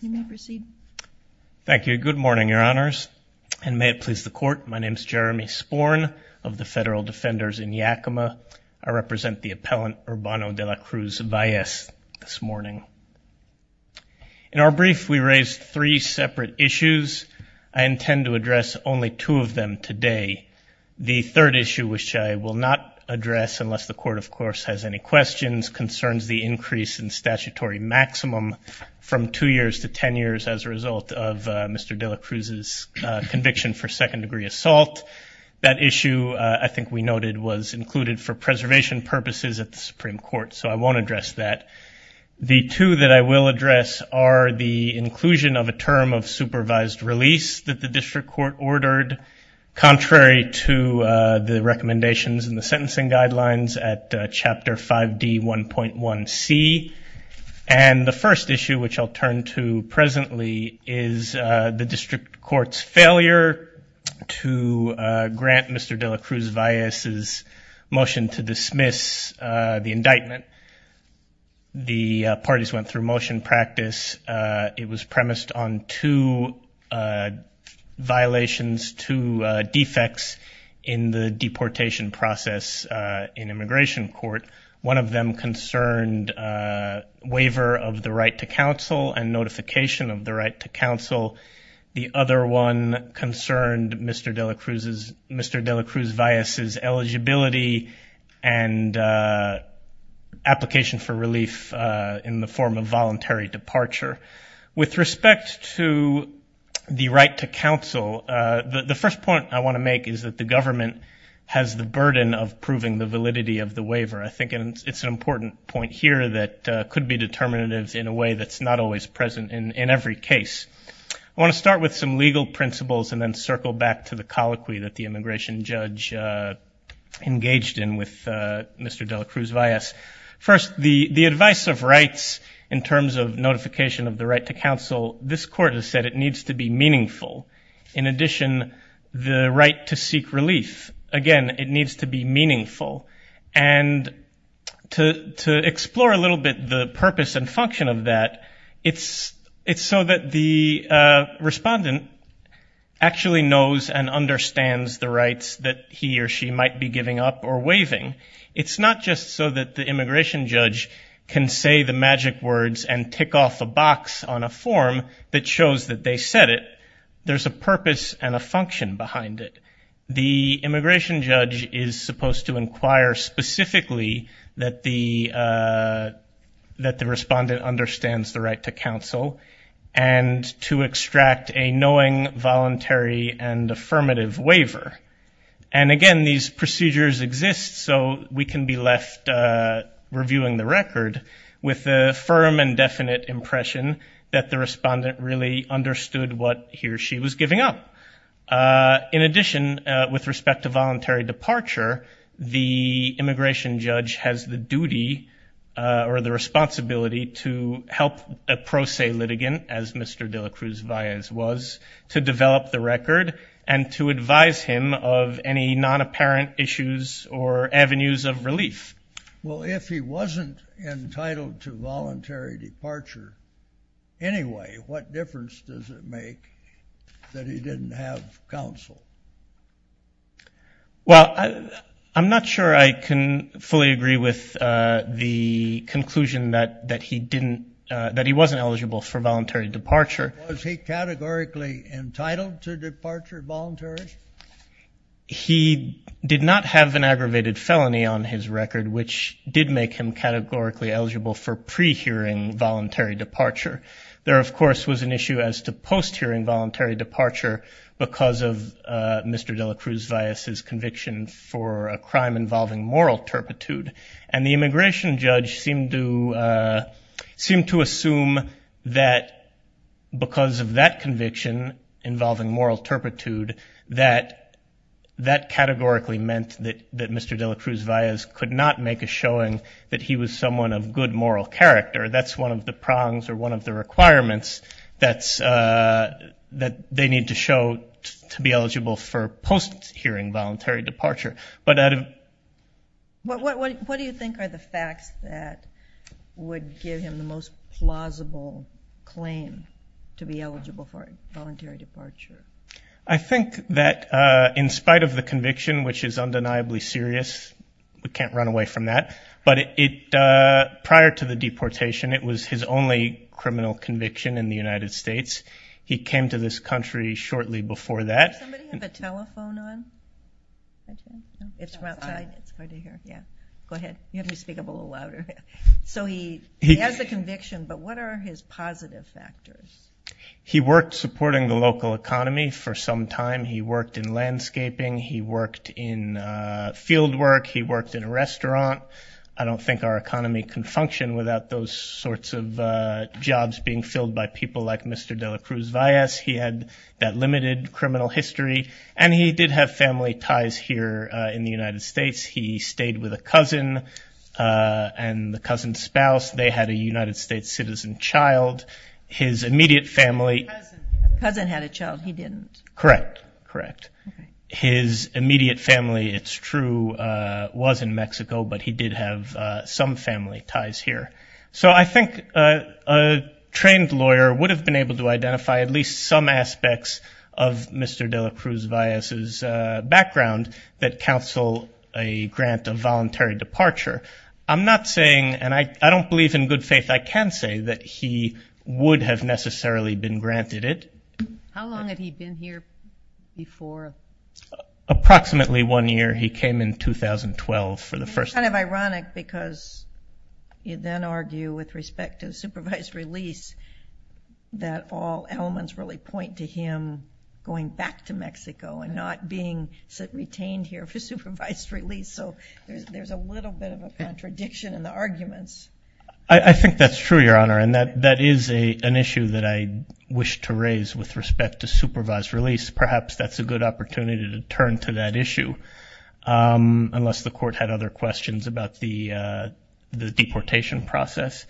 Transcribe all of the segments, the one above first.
In our brief, we raised three separate issues. I intend to address only two of them today. The third issue, which I will not address unless the Court, of course, has any questions concerns the increase in statutory maximum from two years to 10 years as a result of Mr. De La Cruz's conviction for second-degree assault. That issue, I think we noted, was included for preservation purposes at the Supreme Court, so I won't address that. The two that I will address are the inclusion of a term of supervised release that the District And the first issue, which I'll turn to presently, is the District Court's failure to grant Mr. De La Cruz-Valles' motion to dismiss the indictment. The parties went through motion practice. It was premised on two violations, two defects in the deportation process in immigration court. One of them concerned waiver of the right to counsel and notification of the right to counsel. The other one concerned Mr. De La Cruz-Valles' eligibility and application for relief in the form of voluntary departure. With respect to the right to counsel, the first point I want to make is that the government has the burden of proving the validity of the waiver. I think it's an important point here that could be determinative in a way that's not always present in every case. I want to start with some legal principles and then circle back to the colloquy that the immigration judge engaged in with Mr. De La Cruz-Valles. First, the advice of rights in terms of notification of the right to counsel, this court has said it needs to be meaningful. In addition, the right to seek relief, again, it needs to be meaningful. To explore a little bit the purpose and function of that, it's so that the respondent actually knows and understands the rights that he or she might be giving up or waiving. It's not just so that the immigration judge can say the magic words and tick off a box on a form that shows that they said it. There's a purpose and a function behind it. The immigration judge is supposed to inquire specifically that the respondent understands the right to counsel and to extract a knowing, voluntary, and affirmative waiver. And again, these procedures exist so we can be left reviewing the record with a firm and the respondent really understood what he or she was giving up. In addition, with respect to voluntary departure, the immigration judge has the duty or the responsibility to help a pro se litigant, as Mr. De La Cruz-Valles was, to develop the record and to advise him of any non-apparent issues or avenues of relief. Well, if he wasn't entitled to voluntary departure anyway, what difference does it make that he didn't have counsel? Well, I'm not sure I can fully agree with the conclusion that he wasn't eligible for voluntary departure. Was he categorically entitled to departure voluntarily? He did not have an aggravated felony on his record, which did make him categorically eligible for pre-hearing voluntary departure. There of course was an issue as to post-hearing voluntary departure because of Mr. De La Cruz-Valles's conviction for a crime involving moral turpitude. And the immigration judge seemed to assume that because of that conviction involving moral turpitude, that that categorically meant that Mr. De La Cruz-Valles could not make a showing that he was someone of good moral character. That's one of the prongs or one of the requirements that they need to show to be eligible for post-hearing voluntary departure. But out of... What do you think are the facts that would give him the most plausible claim to be eligible for voluntary departure? I think that in spite of the conviction, which is undeniably serious, we can't run away from that, but prior to the deportation, it was his only criminal conviction in the United States. He came to this country shortly before that. Does somebody have a telephone on? It's from outside. It's hard to hear. Yeah. Go ahead. You have to speak up a little louder. So he has a conviction, but what are his positive factors? He worked supporting the local economy for some time. He worked in landscaping. He worked in field work. He worked in a restaurant. I don't think our economy can function without those sorts of jobs being filled by people like Mr. De La Cruz-Valles. He had that limited criminal history, and he did have family ties here in the United States. He stayed with a cousin and the cousin's spouse. They had a United States citizen child. His immediate family... The cousin had a child. He didn't. Correct. Correct. Okay. His immediate family, it's true, was in Mexico, but he did have some family ties here. So I think a trained lawyer would have been able to identify at least some aspects of Mr. De La Cruz-Valles' background that counsel a grant of voluntary departure. I'm not saying, and I don't believe in good faith, I can say that he would have necessarily been granted it. How long had he been here before? Approximately one year. He came in 2012 for the first time. It's kind of ironic because you then argue with respect to supervised release that all elements really point to him going back to Mexico and not being retained here for supervised release. So there's a little bit of a contradiction in the arguments. I think that's true, Your Honor, and that is an issue that I wish to raise with respect to supervised release. Perhaps that's a good opportunity to turn to that issue unless the court had other questions about the deportation process.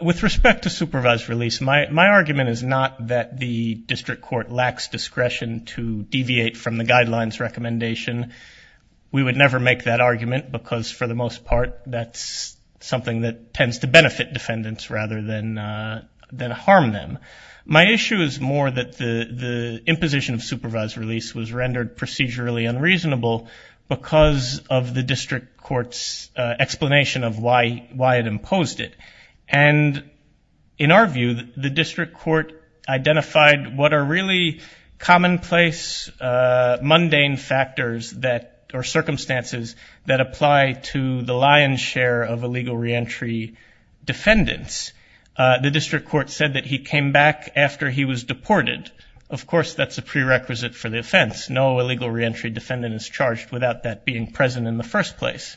With respect to supervised release, my argument is not that the district court lacks discretion to deviate from the guidelines recommendation. We would never make that argument because, for the most part, that's something that tends to benefit defendants rather than harm them. My issue is more that the imposition of supervised release was rendered procedurally unreasonable because of the district court's explanation of why it imposed it. And in our view, the district court identified what are really commonplace, mundane factors that are circumstances that apply to the lion's share of illegal reentry defendants. The district court said that he came back after he was deported. Of course, that's a prerequisite for the offense. No illegal reentry defendant is charged without that being present in the first place.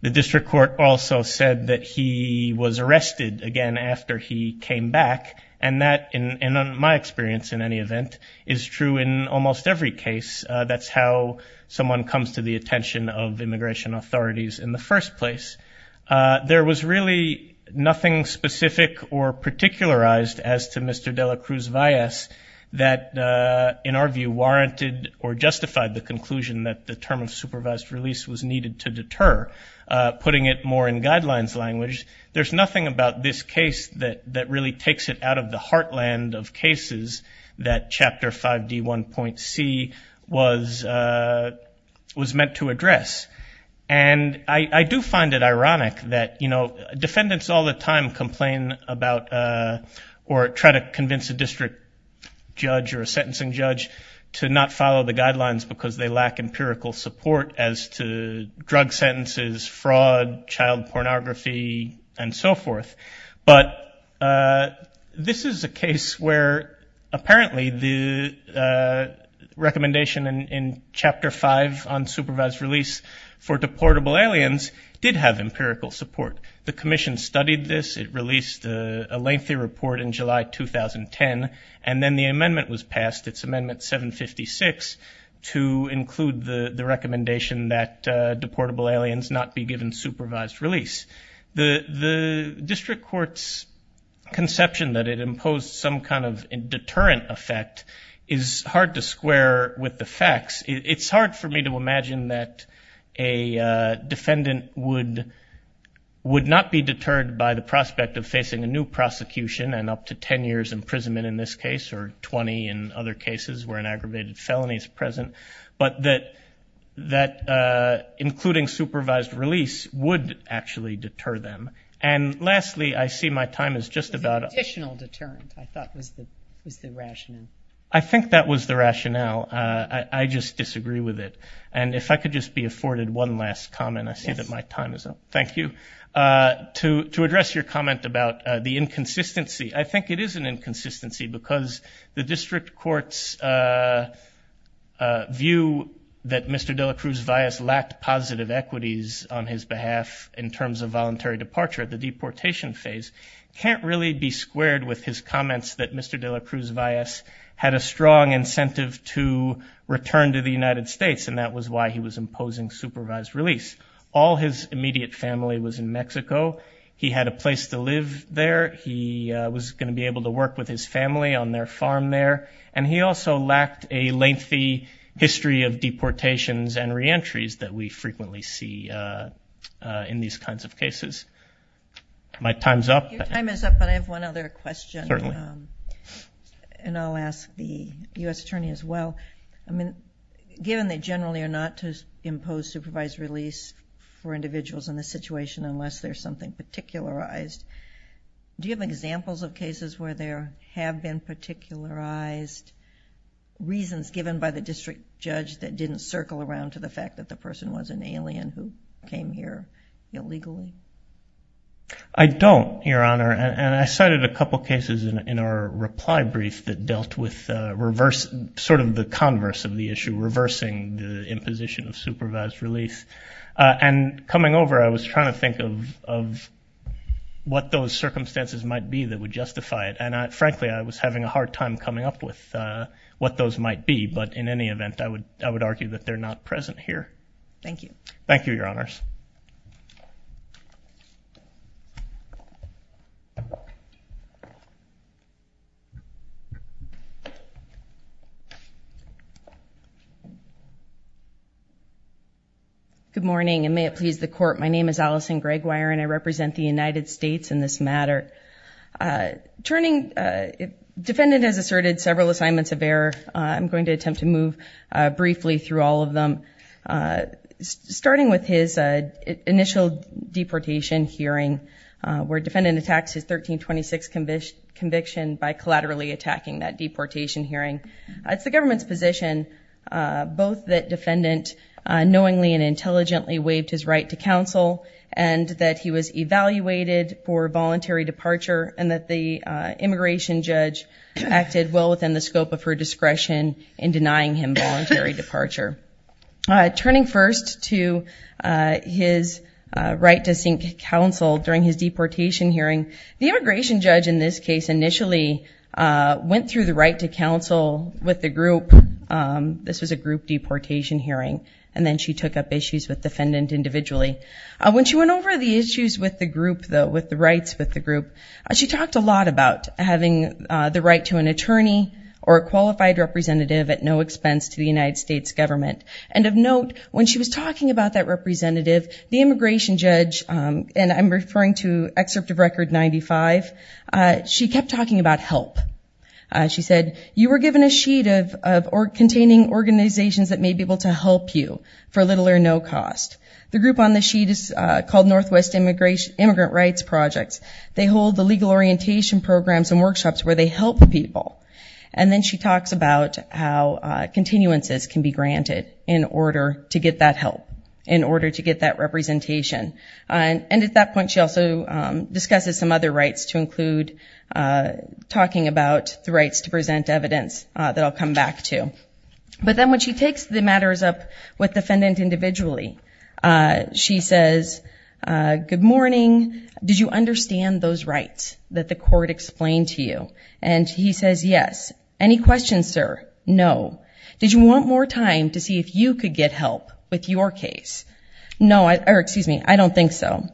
The district court also said that he was arrested again after he came back. And that, in my experience in any event, is true in almost every case. That's how someone comes to the attention of immigration authorities in the first place. There was really nothing specific or particularized as to Mr. de la Cruz Valles that in our view warranted or justified the conclusion that the term of supervised release was needed to deter, putting it more in guidelines language. There's nothing about this case that really takes it out of the heartland of cases that Chapter 5D1.C was meant to address. And I do find it ironic that, you know, defendants all the time complain about or try to convince a district judge or a sentencing judge to not follow the guidelines because they lack empirical support as to drug sentences, fraud, child pornography, and so forth. But this is a case where apparently the recommendation in Chapter 5 on supervised release for deportable aliens did have empirical support. The commission studied this. It released a lengthy report in July 2010. And then the amendment was passed, it's Amendment 756, to include the recommendation that deportable aliens not be given supervised release. The district court's conception that it imposed some kind of deterrent effect is hard to square with the facts. It's hard for me to imagine that a defendant would not be deterred by the prospect of facing a new prosecution and up to 10 years imprisonment in this case or 20 in other cases where an aggravated felony is present, but that including supervised release would actually deter them. And lastly, I see my time is just about up. Additional deterrent, I thought was the rationale. I think that was the rationale. I just disagree with it. And if I could just be afforded one last comment, I see that my time is up. Thank you. To address your comment about the inconsistency, I think it is an inconsistency because the district court's view that Mr. de la Cruz Valles lacked positive equities on his behalf in terms of voluntary departure at the deportation phase can't really be squared with his comments that Mr. de la Cruz Valles had a strong incentive to return to the United States and that was why he was imposing supervised release. All his immediate family was in Mexico. He had a place to live there. He was going to be able to work with his family on their farm there. And he also lacked a lengthy history of deportations and reentries that we frequently see in these kinds of cases. My time's up. Your time is up, but I have one other question. Certainly. And I'll ask the U.S. Attorney as well. Given they generally are not to impose supervised release for individuals in this situation unless there's something particularized, do you have examples of cases where there have been particularized reasons given by the district judge that didn't circle around to the fact that the person was an alien who came here illegally? I don't, Your Honor, and I cited a couple of cases in our reply brief that dealt with reverse, sort of the converse of the issue, reversing the imposition of supervised release. And coming over, I was trying to think of what those circumstances might be that would justify it, and frankly, I was having a hard time coming up with what those might be, but in any event, I would argue that they're not present here. Thank you. Thank you, Your Honors. Good morning, and may it please the court. My name is Allison Greggwire, and I represent the United States in this matter. Turning, defendant has asserted several assignments of error. I'm going to attempt to move briefly through all of them. Starting with his initial deportation hearing, where defendant attacks his 1326 conviction by collaterally attacking that deportation hearing. It's the government's position, both that defendant knowingly and intelligently waived his right to counsel, and that he was evaluated for voluntary departure, and that the immigration judge acted well within the scope of her discretion in denying him voluntary departure. Turning first to his right to seek counsel during his deportation hearing, the immigration judge in this case initially went through the right to counsel with the group. This was a group deportation hearing, and then she took up issues with defendant individually. When she went over the issues with the group, with the rights with the group, she talked a lot about having the right to an attorney or a qualified representative at no expense to the United States government. And of note, when she was talking about that representative, the immigration judge, and I'm referring to excerpt of record 95, she kept talking about help. She said, you were given a sheet containing organizations that may be able to help you for little or no cost. The group on the sheet is called Northwest Immigrant Rights Projects. They hold the legal orientation programs and workshops where they help people. And then she talks about how continuances can be granted in order to get that help, and at that point, she also discusses some other rights to include talking about the rights to present evidence that I'll come back to. But then when she takes the matters up with defendant individually, she says, good morning, did you understand those rights that the court explained to you? And he says, yes. Any questions, sir? No. Did you want more time to see if you could get help with your case? No, or excuse me, I don't think so.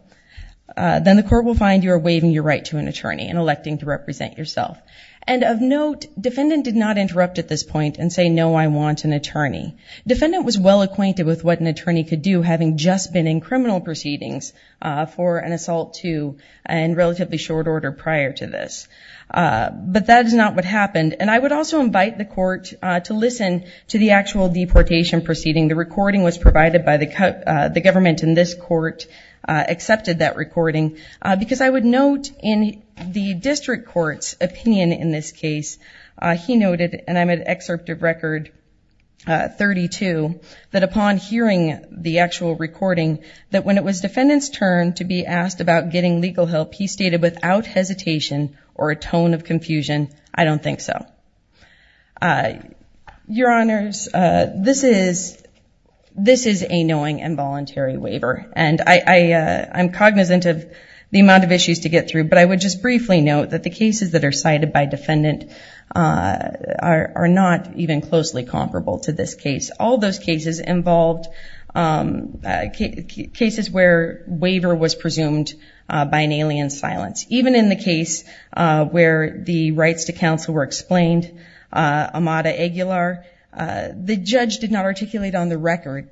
Then the court will find you are waiving your right to an attorney and electing to represent yourself. And of note, defendant did not interrupt at this point and say, no, I want an attorney. Defendant was well acquainted with what an attorney could do having just been in criminal proceedings for an assault to and relatively short order prior to this. But that is not what happened. And I would also invite the court to listen to the actual deportation proceeding. The recording was provided by the government, and this court accepted that recording. Because I would note in the district court's opinion in this case, he noted, and I'm at excerpt of record 32, that upon hearing the actual recording, that when it was defendant's turn to be asked about getting legal help, he stated without hesitation or a tone of confusion, I don't think so. Your Honors, this is a knowing and voluntary waiver. And I'm cognizant of the amount of issues to get through, but I would just briefly note that the cases that are cited by defendant are not even closely comparable to this case. All those cases involved cases where waiver was presumed by an alien silence. Even in the case where the rights to counsel were explained, Amada Aguilar, the judge did not articulate on the record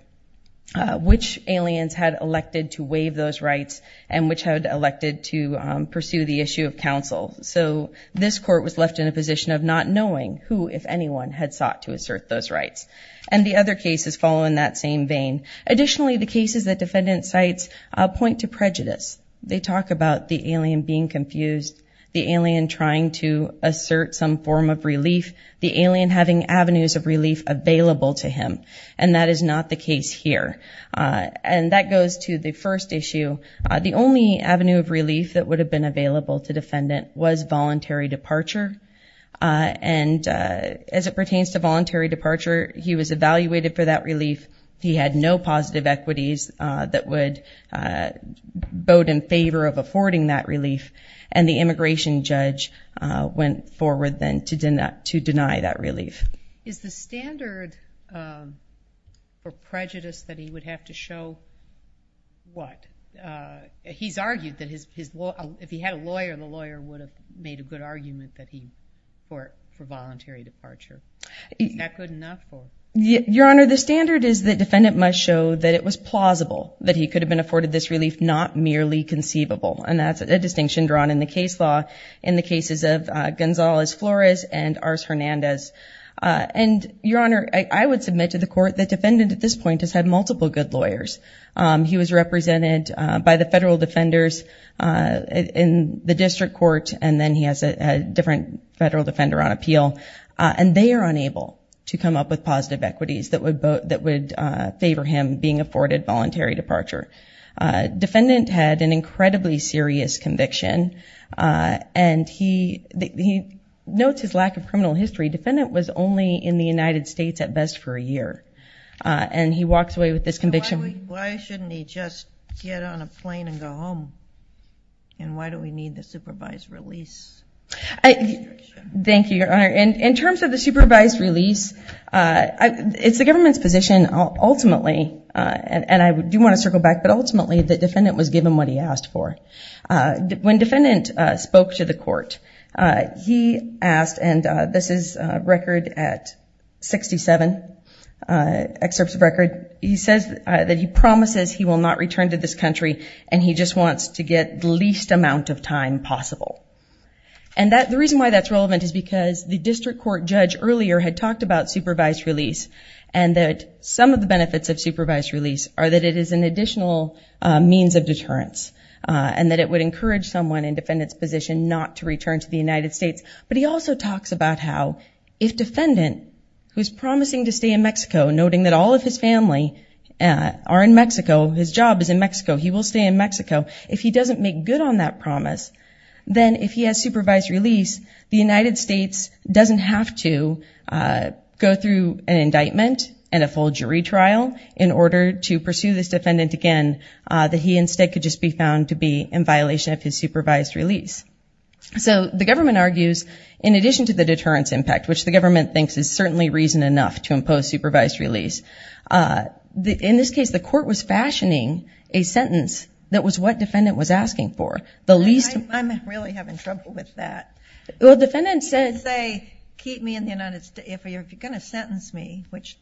which aliens had elected to waive those rights and which had elected to pursue the issue of counsel. So this court was left in a position of not knowing who, if anyone, had sought to assert those rights. And the other cases fall in that same vein. Additionally, the cases that defendant cites point to prejudice. They talk about the alien being confused, the alien trying to assert some form of relief, the alien having avenues of relief available to him. And that is not the case here. And that goes to the first issue. The only avenue of relief that would have been available to defendant was voluntary departure. And as it pertains to voluntary departure, he was evaluated for that relief. He had no positive equities that would vote in favor of affording that relief. And the immigration judge went forward then to deny that relief. Is the standard for prejudice that he would have to show what? He's argued that if he had a lawyer, the lawyer would have made a good argument that he, for voluntary departure. Is that good enough or? Your Honor, the standard is that defendant must show that it was plausible that he could have been afforded this relief, not merely conceivable. And that's a distinction drawn in the case law in the cases of Gonzalez-Flores and Ars Hernandez. And, Your Honor, I would submit to the court that defendant at this point has had multiple good lawyers. He was represented by the federal defenders in the district court, and then he has a different federal defender on appeal. And they are unable to come up with positive equities that would favor him being afforded voluntary departure. Defendant had an incredibly serious conviction, and he notes his lack of criminal history. Defendant was only in the United States at best for a year, and he walks away with this conviction. Why shouldn't he just get on a plane and go home? And why do we need the supervised release? Thank you, Your Honor. In terms of the supervised release, it's the government's position ultimately, and I do want to circle back, but ultimately the defendant was given what he asked for. When defendant spoke to the court, he asked, and this is record at 67, excerpts of record. He says that he promises he will not return to this country, and he just wants to get the least amount of time possible. And the reason why that's relevant is because the district court judge earlier had talked about supervised release, and that some of the benefits of supervised release are that it is an additional means of deterrence, and that it would encourage someone in defendant's position not to return to the United States. But he also talks about how if defendant, who's promising to stay in Mexico, noting that all of his family are in Mexico, his job is in Mexico, he will stay in Mexico. If he doesn't make good on that promise, then if he has supervised release, the United States doesn't have to go through an indictment and a full jury trial in order to pursue this defendant again, that he instead could just be found to be in violation of his supervised release. So the government argues, in addition to the deterrence impact, which the government thinks is certainly reason enough to impose supervised release, in this case, the court was fashioning a sentence that was what defendant was asking for, the least... I'm really having trouble with that. Well, defendant said... He didn't say, keep me in the United... If you're going to sentence me, which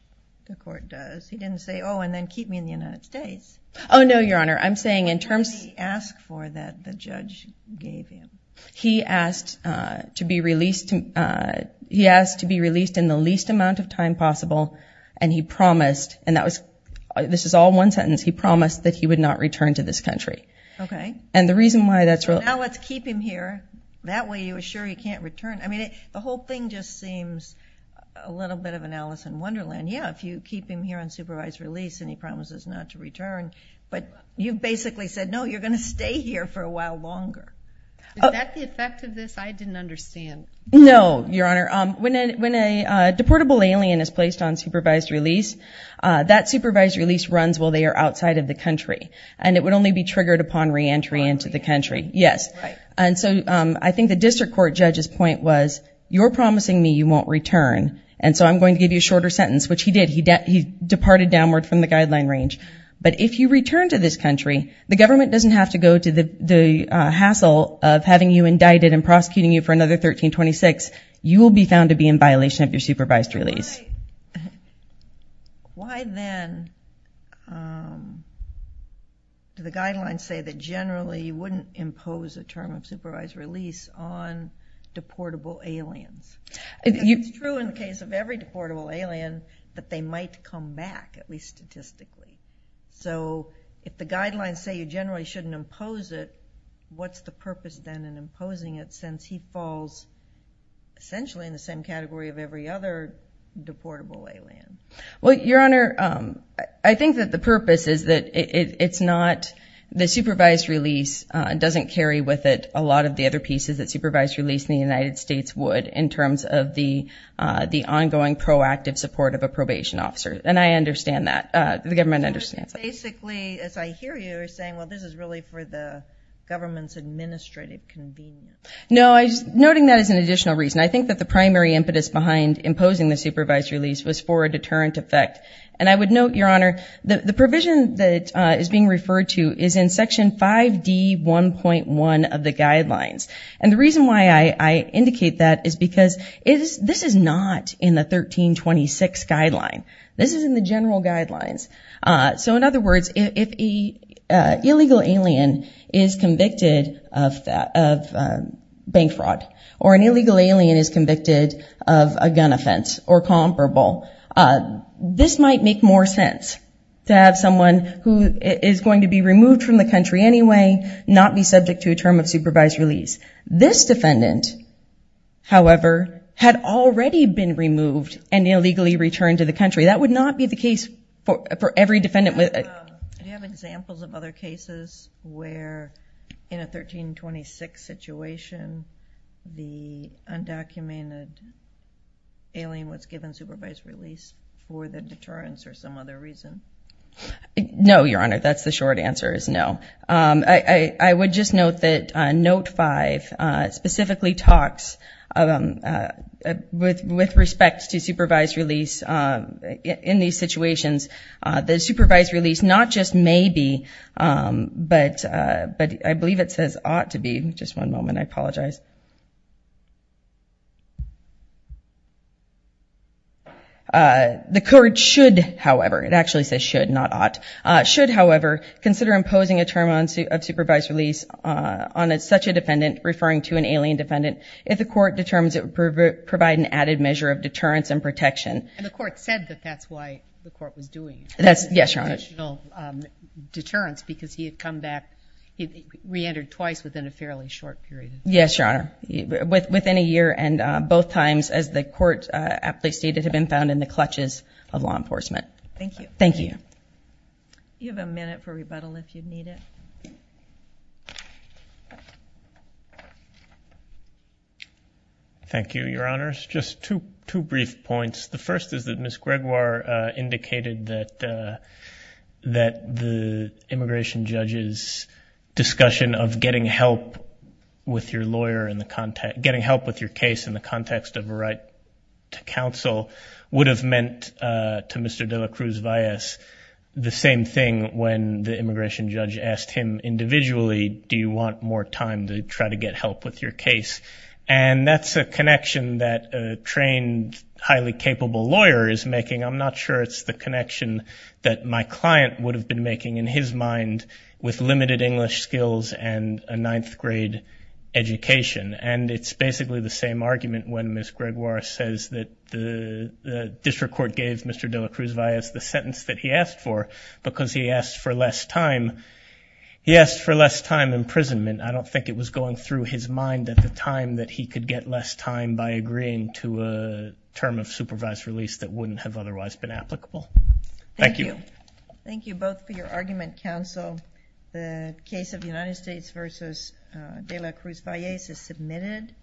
the court does, he didn't say, oh, and then keep me in the United States. Oh, no, Your Honor, I'm saying in terms... What did he ask for that the judge gave him? He asked to be released in the least amount of time possible, and he promised, and this is all one sentence, he promised that he would not return to this country. Okay. And the reason why that's... So now let's keep him here, that way you assure he can't return. I mean, the whole thing just seems a little bit of an Alice in Wonderland. Yeah, if you keep him here on supervised release and he promises not to return, but you basically said, no, you're going to stay here for a while longer. Is that the effect of this? I didn't understand. No, Your Honor. When a deportable alien is placed on supervised release, that supervised release runs while they are outside of the country, and it would only be triggered upon reentry into the country. Yes. And so I think the district court judge's point was, you're promising me you won't return, and so I'm going to give you a shorter sentence, which he did. He departed downward from the guideline range. But if you return to this country, the government doesn't have to go to the hassle of having you indicted and prosecuting you for another 1326. You will be found to be in violation of your supervised release. Why then do the guidelines say that generally you wouldn't impose a term of supervised release on deportable aliens? It's true in the case of every deportable alien that they might come back, at least statistically. So if the guidelines say you generally shouldn't impose it, what's the purpose then in imposing it since he falls essentially in the same category of every other deportable alien? Well, Your Honor, I think that the purpose is that it's not the supervised release doesn't carry with it a lot of the other pieces that supervised release in the United States would in terms of the ongoing proactive support of a probation officer, and I understand that. The government understands that. So basically, as I hear you, you're saying, well, this is really for the government's administrative convenience. No, noting that is an additional reason. I think that the primary impetus behind imposing the supervised release was for a deterrent effect. And I would note, Your Honor, the provision that is being referred to is in Section 5D1.1 of the guidelines. And the reason why I indicate that is because this is not in the 1326 guideline. This is in the general guidelines. So in other words, if an illegal alien is convicted of bank fraud, or an illegal alien is convicted of a gun offense or comparable, this might make more sense to have someone who is going to be removed from the country anyway not be subject to a term of supervised release. This defendant, however, had already been removed and illegally returned to the country. That would not be the case for every defendant. Do you have examples of other cases where, in a 1326 situation, the undocumented alien was given supervised release for the deterrence or some other reason? No, Your Honor, that's the short answer, is no. I would just note that Note 5 specifically talks with respect to supervised release in these situations. The supervised release not just may be, but I believe it says ought to be. Just one moment, I apologize. The court should, however, it actually says should, not ought, should, however, consider imposing a term of supervised release on such a defendant, referring to an alien defendant, if the court determines it would provide an added measure of deterrence and protection. And the court said that that's why the court was doing the additional deterrence, because he had come back, he reentered twice within a fairly short period. Yes, Your Honor, within a year, and both times, as the court aptly stated, have been found in the clutches of law enforcement. Thank you. Thank you. You have a minute for rebuttal if you need it. Thank you, Your Honors. Just two brief points. The first is that Ms. Gregoire indicated that the immigration judge's discussion of getting help with your lawyer, getting help with your case in the context of a right to counsel, would have meant to Mr. de la Cruz Valles the same thing when the immigration judge asked him individually, do you want more time to try to get help with your case? And that's a connection that a trained, highly capable lawyer is making. I'm not sure it's the connection that my client would have been making in his mind with limited English skills and a ninth grade education. And it's basically the same argument when Ms. Gregoire says that the district court gave Mr. de la Cruz Valles the sentence that he asked for, because he asked for less time. He asked for less time imprisonment. I don't think it was going through his mind at the time that he could get less time by agreeing to a term of supervised release that wouldn't have otherwise been applicable. Thank you. Thank you both for your argument, counsel. The case of United States v. de la Cruz Valles is submitted.